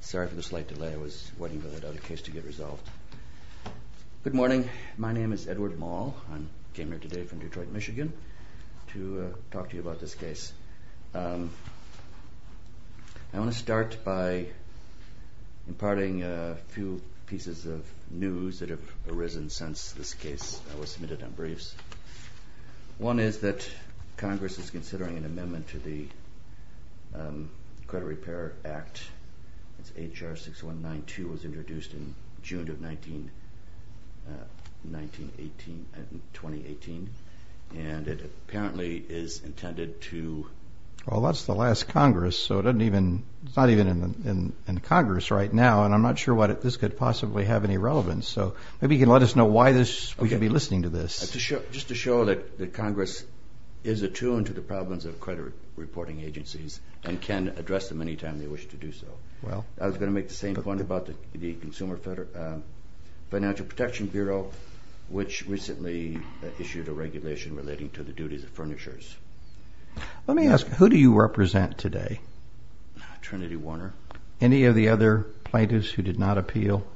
Sorry for the slight delay. I was waiting for that other case to get resolved. Good morning. My name is Edward Moll. I came here today from Detroit, Michigan to talk to you about this case. I want to start by imparting a few pieces of news that have arisen since this case was submitted on briefs. One is that H.R. 6192 was introduced in June of 2018 and it apparently is intended to... Well, that's the last Congress, so it's not even in Congress right now, and I'm not sure what this could possibly have any relevance. So maybe you can let us know why we should be listening to this. Just to show that the Congress is attuned to the problems of credit reporting agencies and can address them anytime they wish to do so. Well, I was going to make the same point about the Consumer Financial Protection Bureau, which recently issued a regulation relating to the duties of furnishers. Let me ask, who do you represent today? Trinity Warner. Any of the other plaintiffs who did not appeal?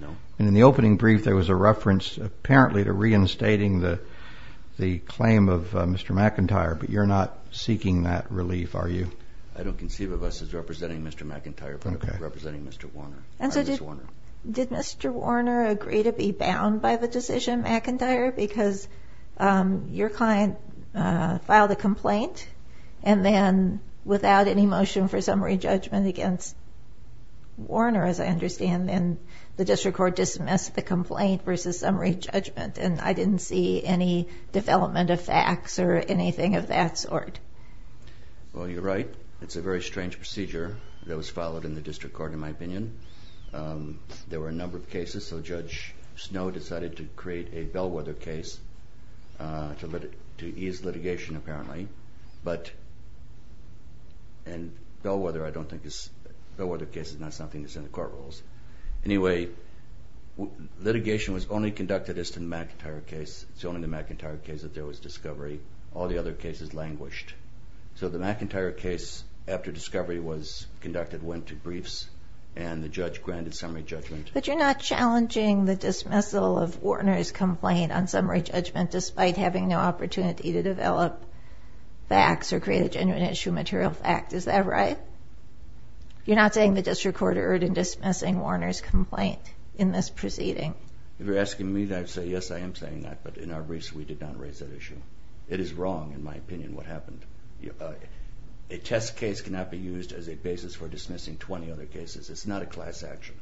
No. And in the opening brief there was a reference apparently to reinstating the claim of Mr. McIntyre, but you're not seeking that relief, are you? I don't conceive of us as representing Mr. McIntyre, but representing Mr. Warner. Did Mr. Warner agree to be bound by the decision, McIntyre, because your client filed a complaint and then without any motion for summary judgment against Warner, as I understand, then the District Court dismissed the complaint versus summary judgment, and I didn't see any development of facts or anything of that sort. Well, you're right. It's a very strange procedure that was followed in the District Court, in my opinion. There were a number of cases, so Judge Snow decided to create a Bellwether case to ease litigation, apparently. And Bellwether, I don't think is... Bellwether case is not something that's in the court rules. Anyway, litigation was only conducted as to the McIntyre case. It's only the McIntyre case that there was discovery. All the other cases languished. So the McIntyre case, after discovery was conducted, went to briefs, and the judge granted summary judgment. But you're not challenging the dismissal of Warner's complaint on summary judgment, despite having no opportunity to develop facts or create a genuine issue of material fact, is that right? You're not saying the District Court erred in dismissing in this proceeding. If you're asking me, I'd say, yes, I am saying that, but in our briefs, we did not raise that issue. It is wrong, in my opinion, what happened. A test case cannot be used as a basis for dismissing 20 other cases. It's not a class action.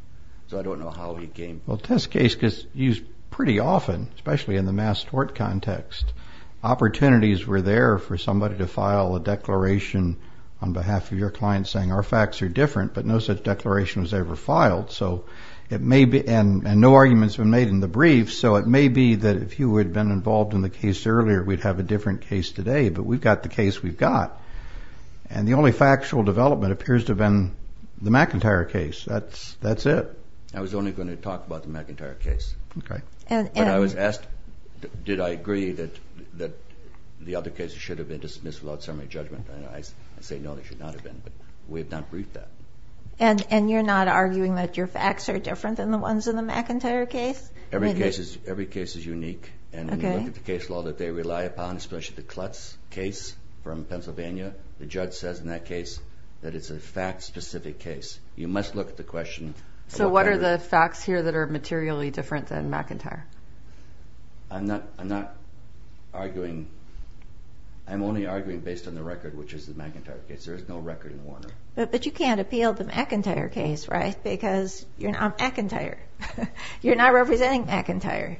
So I don't know how he came... Well, test case gets used pretty often, especially in the mass tort context. Opportunities were there for somebody to file a declaration on behalf of your client saying, our facts are different, but no such declaration was ever filed. So it may be, and no arguments were made in the briefs, so it may be that if you had been involved in the case earlier, we'd have a different case today. But we've got the case we've got, and the only factual development appears to have been the McIntyre case. That's it. I was only going to talk about the McIntyre case. Okay. And I was asked, did I agree that the other cases should have been dismissed without summary judgment? I say, no, they should not have been, but we have not briefed that. And you're not arguing that your facts are different than the ones in the McIntyre case? Every case is unique, and when you look at the case law that they rely upon, especially the Klutz case from Pennsylvania, the judge says in that case that it's a fact-specific case. You must look at the question... So what are the facts here that are materially different than McIntyre? I'm not arguing... I'm only arguing based on the record, which is the McIntyre case. There is no record in Warner. But you can't appeal the McIntyre case, right? Because you're not McIntyre. You're not representing McIntyre.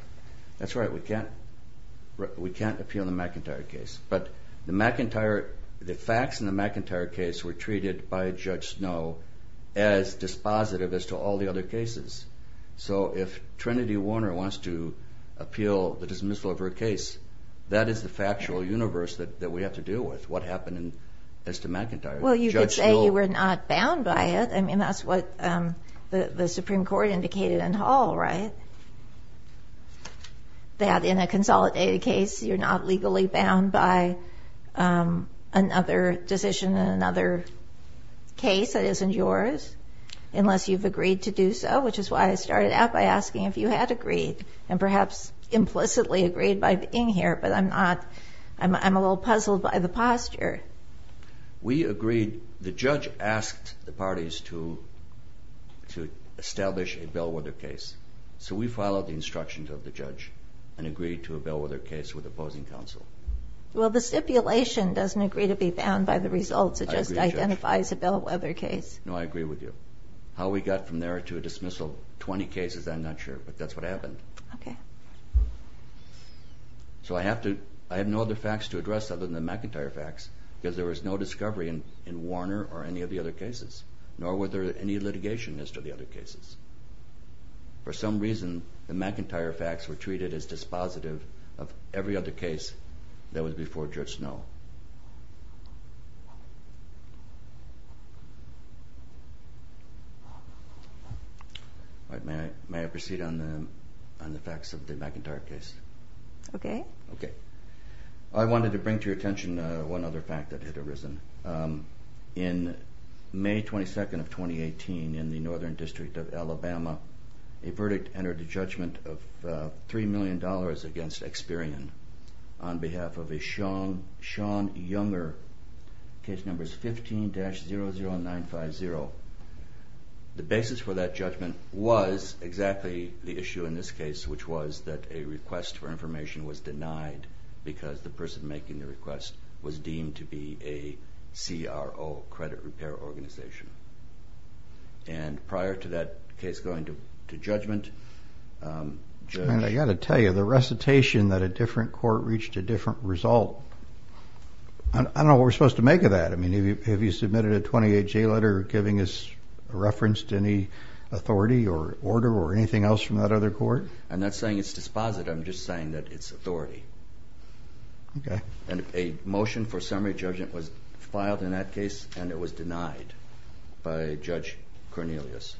That's right. We can't... we can't appeal the McIntyre case. But the McIntyre... the facts in the McIntyre case were treated by Judge Snow as dispositive as to all the other cases. So if Trinity Warner wants to appeal the dismissal of her case, that is the factual universe that we have to deal with. What happened as to McIntyre? Well, you could say you were not bound by it. I mean, that's what the Supreme Court indicated in Hall, right? That in a consolidated case, you're not legally bound by another decision in another case that isn't yours, unless you've agreed to do so, which is why I started out by asking if you had agreed, and perhaps implicitly by being here, but I'm not... I'm a little puzzled by the posture. We agreed... the judge asked the parties to establish a Bellwether case. So we followed the instructions of the judge and agreed to a Bellwether case with opposing counsel. Well, the stipulation doesn't agree to be bound by the results. It just identifies a Bellwether case. No, I agree with you. How we got from there to a dismissal... 20 cases, I'm not sure, but that's what happened. Okay. So I have to... I have no other facts to address other than the McIntyre facts, because there was no discovery in Warner or any of the other cases, nor were there any litigation as to the other cases. For some reason, the McIntyre facts were treated as dispositive of every other case that was before Judge Snow. All right, may I proceed on the facts of the McIntyre case? Okay. Okay. I wanted to bring to your attention one other fact that had arisen. In May 22nd of 2018, in the Northern District of Alabama, a verdict entered the judgment of three John Younger, case numbers 15-00950. The basis for that judgment was exactly the issue in this case, which was that a request for information was denied because the person making the request was deemed to be a CRO, credit repair organization. And prior to that case going to judgment... I got to tell you, the recitation that a different court reached a different result. I don't know what we're supposed to make of that. I mean, have you submitted a 28-J letter giving us a reference to any authority or order or anything else from that other court? I'm not saying it's dispositive, I'm just saying that it's authority. Okay. And a motion for summary judgment was filed in that case and it was denied by Judge Cornelius.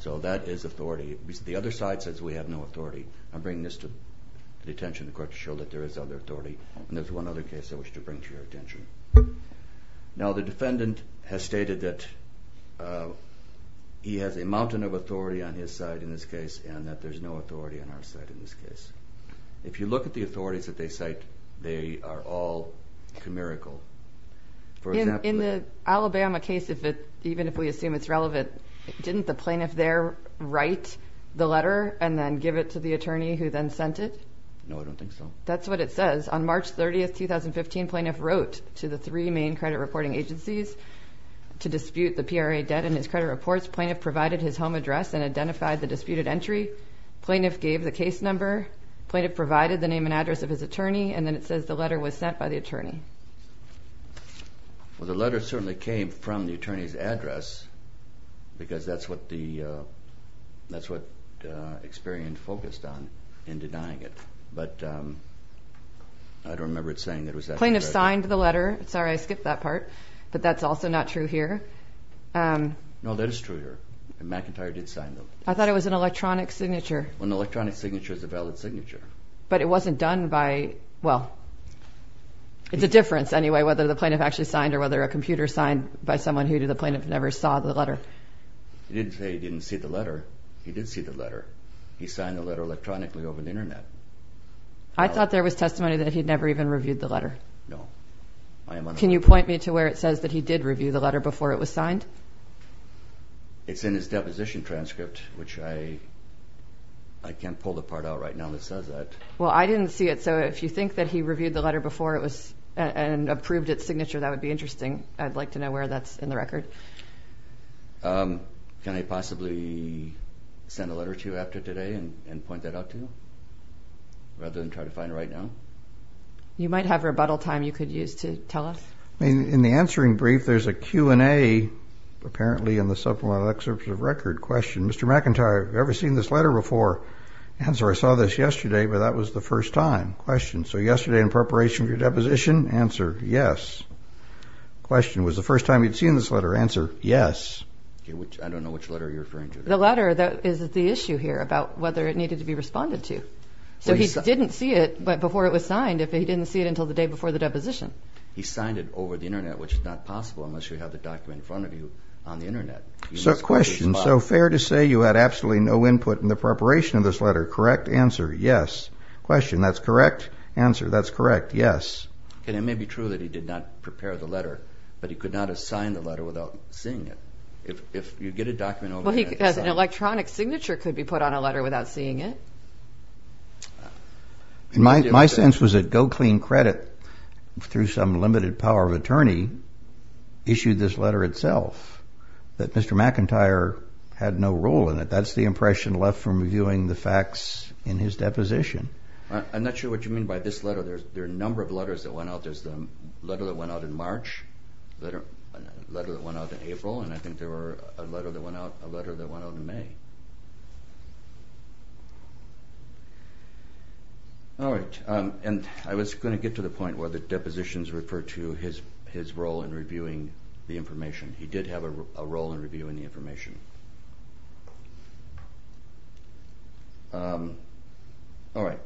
So that is authority. The other side says we have no authority. I'm bringing this to the attention of the court to show that there is other authority. And there's one other case I wish to bring to your attention. Now the defendant has stated that he has a mountain of authority on his side in this case and that there's no authority on our side in this case. If you look at the authorities that they cite, they are all comirical. In the Alabama case, even if we assume it's relevant, didn't the plaintiff there write the letter to the attorney who then sent it? No, I don't think so. That's what it says. On March 30th, 2015, plaintiff wrote to the three main credit reporting agencies to dispute the PRA debt and his credit reports. Plaintiff provided his home address and identified the disputed entry. Plaintiff gave the case number. Plaintiff provided the name and address of his attorney and then it says the letter was sent by the attorney. Well, the letter certainly came from the in denying it, but I don't remember it saying that. Plaintiff signed the letter. Sorry, I skipped that part, but that's also not true here. No, that is true here. McIntyre did sign them. I thought it was an electronic signature. An electronic signature is a valid signature. But it wasn't done by, well, it's a difference anyway whether the plaintiff actually signed or whether a computer signed by someone who the plaintiff never saw the letter. He didn't say he didn't see the signed the letter electronically over the internet. I thought there was testimony that he'd never even reviewed the letter. No. Can you point me to where it says that he did review the letter before it was signed? It's in his deposition transcript, which I can't pull the part out right now that says that. Well, I didn't see it, so if you think that he reviewed the letter before it was and approved its signature, that would be it. Can I possibly send a letter to you after today and point that out to you, rather than try to find it right now? You might have rebuttal time you could use to tell us. In the answering brief, there's a Q&A, apparently in the supplemental excerpt of the record. Question, Mr. McIntyre, have you ever seen this letter before? Answer, I saw this yesterday, but that was the first time. Question, so yesterday in preparation for your deposition? Answer, yes. Question, was the first time you'd seen this letter? Answer, yes. I don't know which letter you're referring to. The letter that is the issue here about whether it needed to be responded to. So he didn't see it before it was signed, if he didn't see it until the day before the deposition. He signed it over the internet, which is not possible unless you have the document in front of you on the internet. So question, so fair to say you had absolutely no input in the preparation of this letter, correct? Answer, yes. Question, that's correct? Answer, that's correct, yes. And it may be true that he did not prepare the letter, but he could not have signed the letter without seeing it. If you get a document over the internet... Well, he has an electronic signature could be put on a letter without seeing it. My sense was that Go Clean Credit, through some limited power of attorney, issued this letter itself, that Mr. McIntyre had no role in it. That's the impression left from reviewing the facts in his deposition. I'm not sure what you mean by this letter. There are a number of letters that went out. There's the letter that went out in March, letter that went out in April, and I think there were a letter that went out in May. Alright, and I was gonna get to the point where the depositions refer to his role in reviewing the information. He did have a role in reviewing the information. Alright.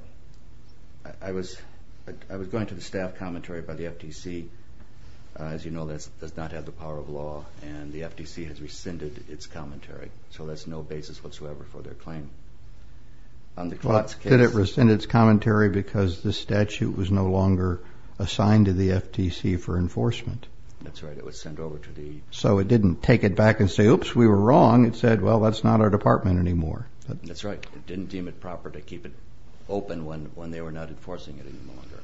I was going to the staff commentary by the FTC. As you know, that does not have the power of law and the FTC has rescinded its commentary, so there's no basis whatsoever for their claim on the Klotz case. Did it rescind its commentary because the statute was no longer assigned to the FTC for enforcement? That's right, it was sent over to the... So it didn't take it back and if we were wrong, it said, well, that's not our department anymore. That's right, it didn't deem it proper to keep it open when they were not enforcing it any longer.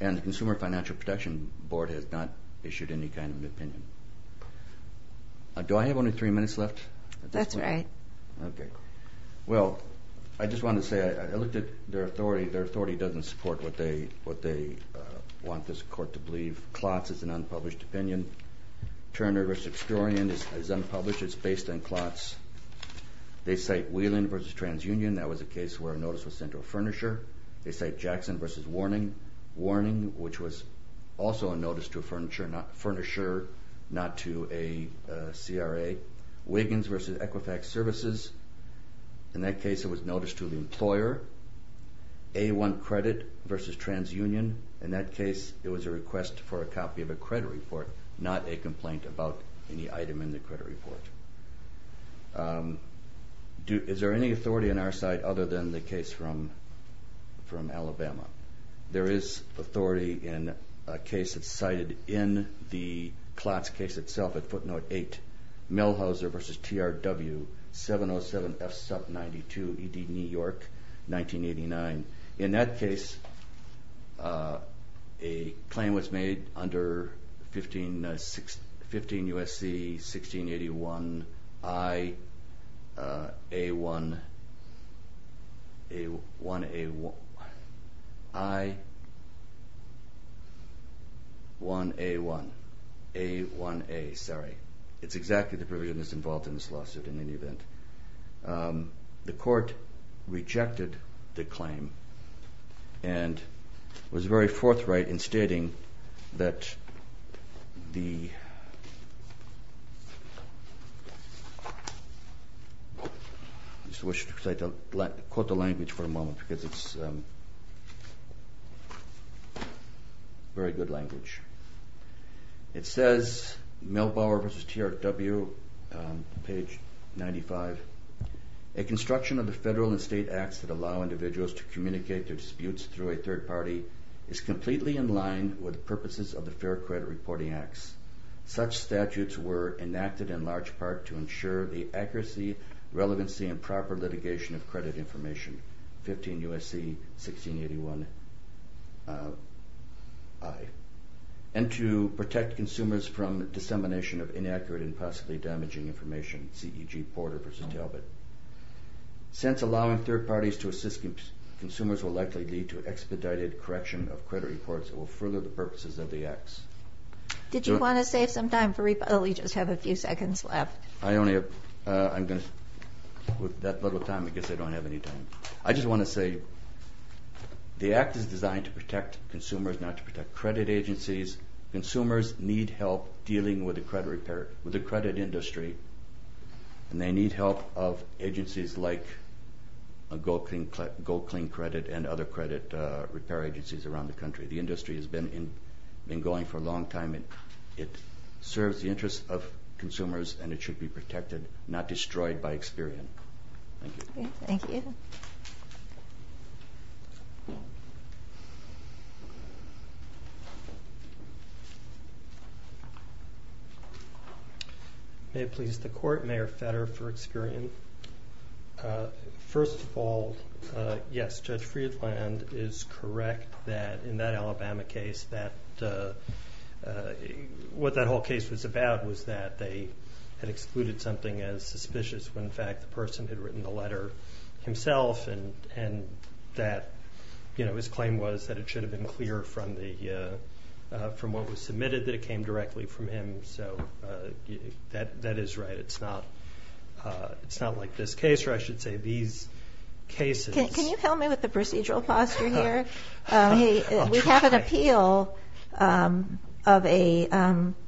And the Consumer Financial Protection Board has not issued any kind of opinion. Do I have only three minutes left? That's right. Okay. Well, I just wanna say, I looked at their authority, their authority doesn't support what they want this court to do. The employer versus explorian is unpublished, it's based on Klotz. They cite Wheelan versus TransUnion, that was a case where a notice was sent to a furnisher. They cite Jackson versus Warning, Warning, which was also a notice to a furnisher, not to a CRA. Wiggins versus Equifax Services, in that case it was notice to the employer. A1 Credit versus TransUnion, in that case it was a request for a copy of a report, any item in the credit report. Is there any authority on our side other than the case from Alabama? There is authority in a case that's cited in the Klotz case itself at footnote 8, Millhauser versus TRW, 707F sub 92, ED New York, 1989. In that case, a claim was made under 15 USC 1681 I A1 A1A1... I 1A1, A1A, sorry. It's exactly the provision that's involved in this lawsuit in any event. The court rejected the claim and was very forthright in stating that the... I just wish to quote the language for a moment because it's not in English. 1A1 A1A1, A1A1, A1A1, A1A1, a construction of the Federal and State Acts that allow individuals to communicate their disputes through a third party is completely in line with the purposes of the Fair Credit Reporting Acts. Such statutes were enacted in large part to ensure the accuracy, relevancy, and proper litigation of credit information. 15 USC 1681 I And to protect consumers from dissemination of inaccurate and possibly insubstantial credit information, such as in the case of G. Porter v. Talbot. Since allowing third parties to assist consumers will likely lead to expedited correction of credit reports that will further the purposes of the acts. Did you want to save some time for rebuttal? We just have a few seconds left. I only have, uh, I'm going to, with that little time, I guess I don't have any time. I just want to say the act is designed to protect consumers, not to protect credit agencies. Consumers need help dealing with the credit industry, and they need help of agencies like GoCleanCredit and other credit repair agencies around the country. The industry has been going for a long time, and it serves the interests of consumers, and it should be protected, not destroyed by experience. Thank you. Thank you. May it please the court. Mayor Fetter for experience. First of all, yes, Judge Friedland is correct that in that Alabama case that what that whole case was about was that they had excluded something as suspicious when in fact the person had written the letter himself and that his claim was that it should have been clear from what was submitted that came directly from him. So that is right. It's not like this case, or I should say these cases. Can you help me with the procedural posture here? I'll try. We have an appeal of a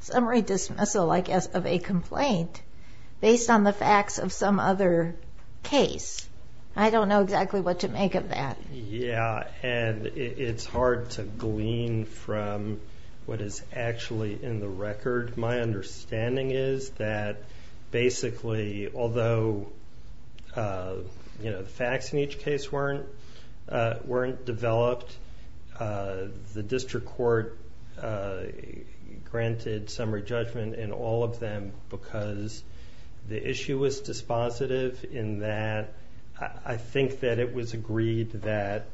summary dismissal, I guess, of a complaint based on the facts of some other case. I don't know exactly what to make of that. Yeah, and it's hard to glean from what is actually in the record. My understanding is that basically, although the facts in each case weren't developed, the district court granted summary judgment in all of them because the issue was dispositive in that. I think that it was agreed that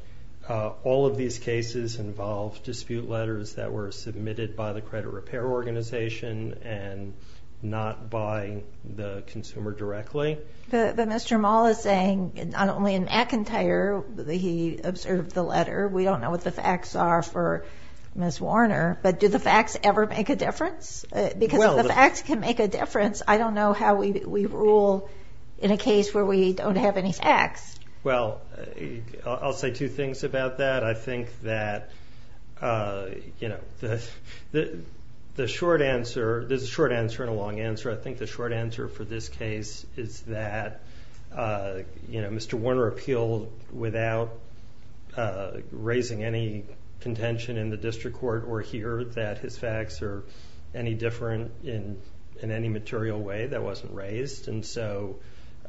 all of these cases involved dispute letters that were submitted by the credit repair organization and not by the consumer directly. But Mr. Mull is saying, not only in Akintyer, he observed the letter, we don't know what the facts are for Ms. Warner, but do the facts ever make a difference? Because if the facts can make a difference, I don't know how we rule in a case where we don't have any facts. Well, I'll say two things about that. I think that the short answer... There's a short answer and a long answer. I think the short answer for this case is that Mr. Warner appealed without raising any contention in the district court or here that his facts are any different in any material way that wasn't raised. And so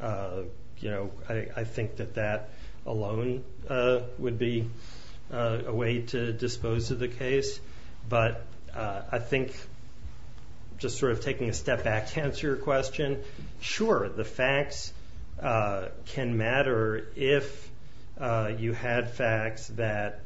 I think that that alone would be a way to dispose of the case. But I think, just sort of taking a step back to answer your question, sure, the facts can matter if you had facts that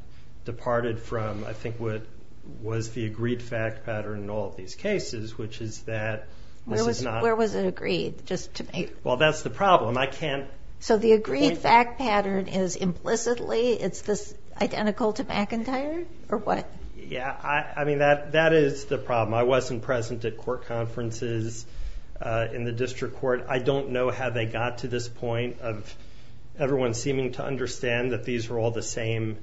was the agreed fact pattern in all of these cases, which is that this is not... Where was it agreed? Just to make... Well, that's the problem. I can't... So the agreed fact pattern is implicitly, it's this identical to McIntyre or what? Yeah, that is the problem. I wasn't present at court conferences in the district court. I don't know how they got to this point of everyone seeming to understand that these are all the same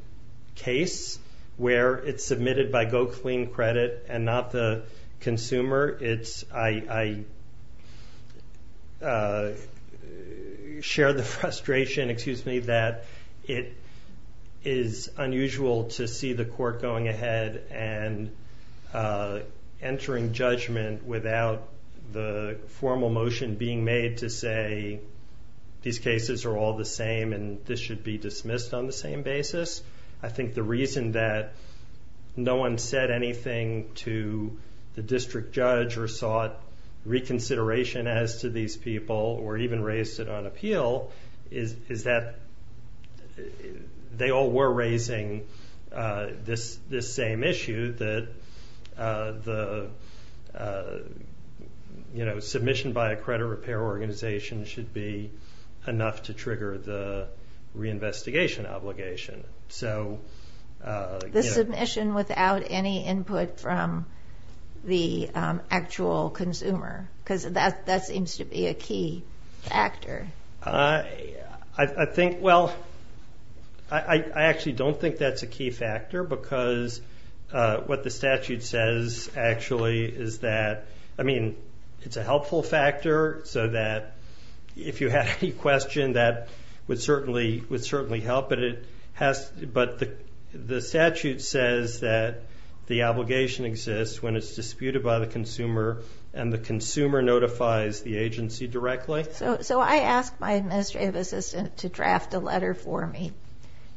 case, where it's submitted by go clean credit and not the consumer. It's... I share the frustration, excuse me, that it is unusual to see the court going ahead and entering judgment without the formal motion being made to say, these cases are all the same and this should be dismissed on the same basis. I think the reason that no one said anything to the district judge or sought reconsideration as to these people, or even raised it on appeal, is that they all were raising this same issue that the submission by a credit repair organization should be enough to trigger the reinvestigation obligation. So... The submission without any input from the actual consumer, because that seems to be a key factor. I think... Well, I actually don't think that's a key factor because what the statute says, actually, is that... I mean, it's a helpful factor so that if you have any question, that would certainly help, but it has... But the statute says that the obligation exists when it's disputed by the consumer and the consumer notifies the agency directly. So I asked my administrative assistant to draft a letter for me,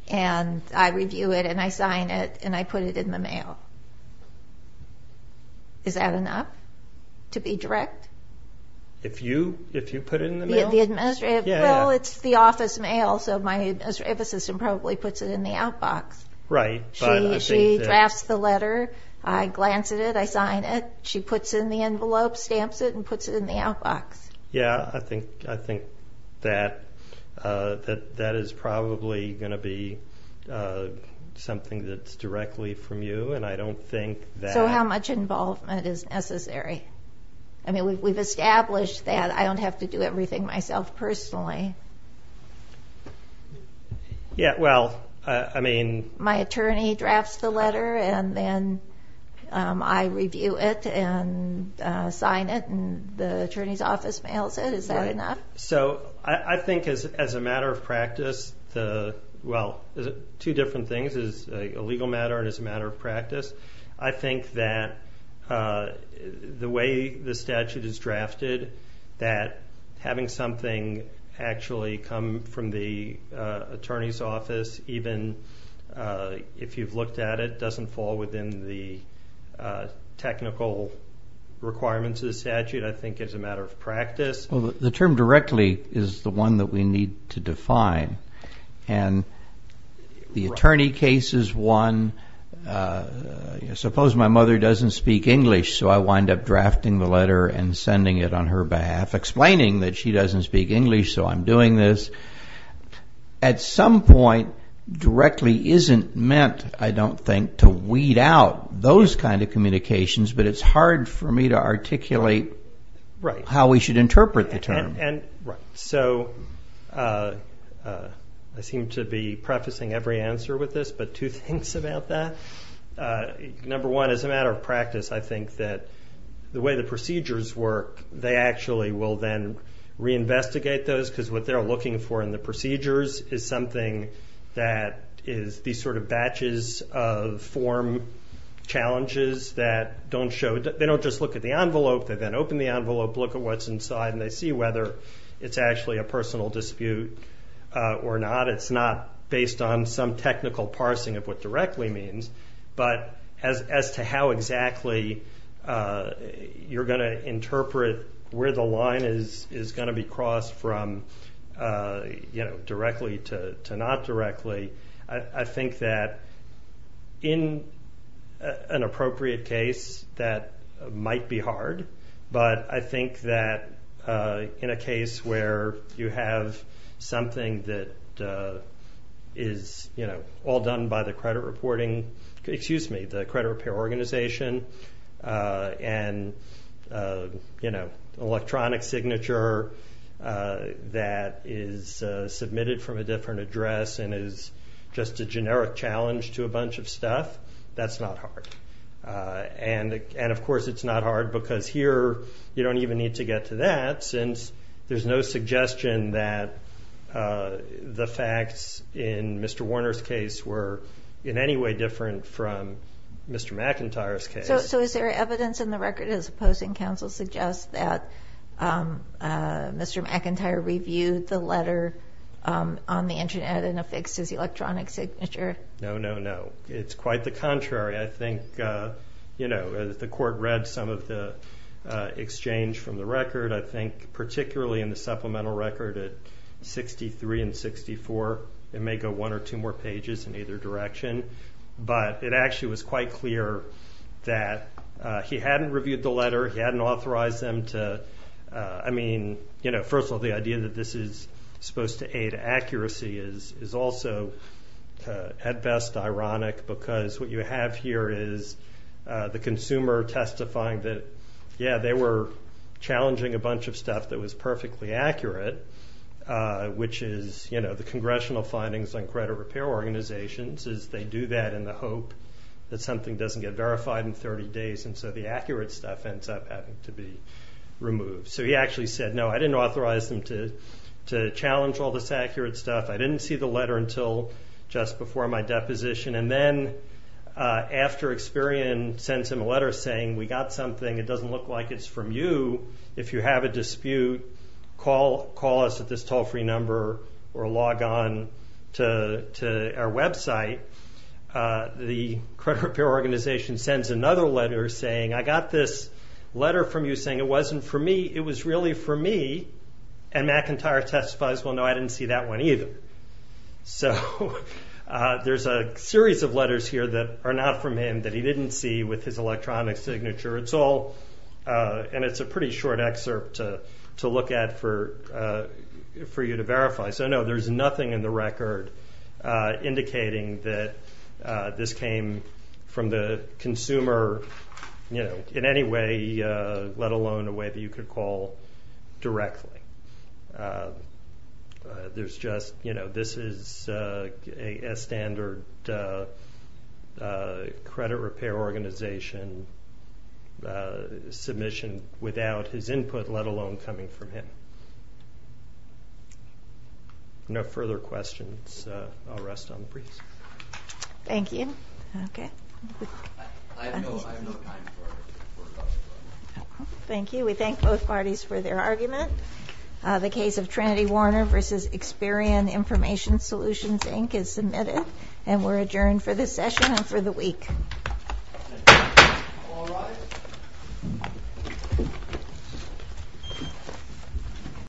and I review it, and I sign it, and I put it in the mail. Is that enough to be direct? If you put it in the mail? The administrative... Yeah, yeah. Well, it's the office mail, so my administrative assistant probably puts it in the outbox. Right, but I think... She drafts the letter, I glance at it, I sign it, she puts it in the envelope, stamps it, and puts it in the outbox. Yeah, I think that that is probably gonna be something that's directly from you, and I don't think that... So how much involvement is necessary? I mean, we've established that I don't have to do everything myself personally. Yeah, well, I mean... My attorney drafts the letter, and then I review it, and sign it, and the attorney's office mails it. Is that enough? Right. So I think as a matter of practice, the... Well, two different things, as a legal matter and as a matter of practice, I think that the way the statute is drafted, that having something actually come from the attorney's office, even if you've looked at it, doesn't fall within the statute. Well, the term directly is the one that we need to define, and the attorney case is one... Suppose my mother doesn't speak English, so I wind up drafting the letter and sending it on her behalf, explaining that she doesn't speak English, so I'm doing this. At some point, directly isn't meant, I don't think, to weed out those kind of communications, but it's hard for me to interpret the term. Right. So I seem to be prefacing every answer with this, but two things about that. Number one, as a matter of practice, I think that the way the procedures work, they actually will then reinvestigate those, because what they're looking for in the procedures is something that is these sort of batches of form challenges that don't show... They don't just look at the envelope, they then open the envelope, look at what's inside, and they see whether it's actually a personal dispute or not. It's not based on some technical parsing of what directly means, but as to how exactly you're gonna interpret where the line is gonna be crossed from directly to not directly, I think that in an appropriate case, that might be hard, but I think that in a case where you have something that is all done by the credit reporting... Excuse me, the credit repair organization and electronic signature that is submitted from a different address and is just a generic challenge to a bunch of stuff, that's not hard. And of course, it's not hard because here you don't even need to get to that, since there's no suggestion that the facts in Mr. Warner's case were in any way different from Mr. McIntyre's case. So is there evidence in the record as opposing counsel on the internet and affixes electronic signature? No, no, no. It's quite the contrary. I think the court read some of the exchange from the record. I think particularly in the supplemental record at 63 and 64, it may go one or two more pages in either direction, but it actually was quite clear that he hadn't reviewed the letter, he hadn't authorized them to... And I think that the supposed to aid accuracy is also at best ironic, because what you have here is the consumer testifying that, yeah, they were challenging a bunch of stuff that was perfectly accurate, which is the congressional findings on credit repair organizations, is they do that in the hope that something doesn't get verified in 30 days, and so the accurate stuff ends up having to be removed. So he actually said, no, I didn't authorize them to challenge all this accurate stuff. I didn't see the letter until just before my deposition. And then after Experian sends him a letter saying, we got something, it doesn't look like it's from you. If you have a dispute, call us at this toll free number or log on to our website. The credit repair organization sends another letter saying, I got this letter from you saying it wasn't for me, it was really for me. And McIntyre testifies, well, no, I didn't see that one either. So there's a series of letters here that are not from him that he didn't see with his electronic signature. It's all... And it's a pretty short excerpt to look at for you to verify. So no, there's nothing in the record indicating that this came from the consumer in any way, let alone a way that you could call directly. There's just... This is a standard credit repair organization submission without his input, let alone coming from him. No further questions. I'll rest on the briefs. Thank you. Okay. I have no time for any further questions. Thank you. We thank both for your argument. The case of Trinity Warner versus Experian Information Solutions, Inc. is submitted and we're adjourned for this session and for the week.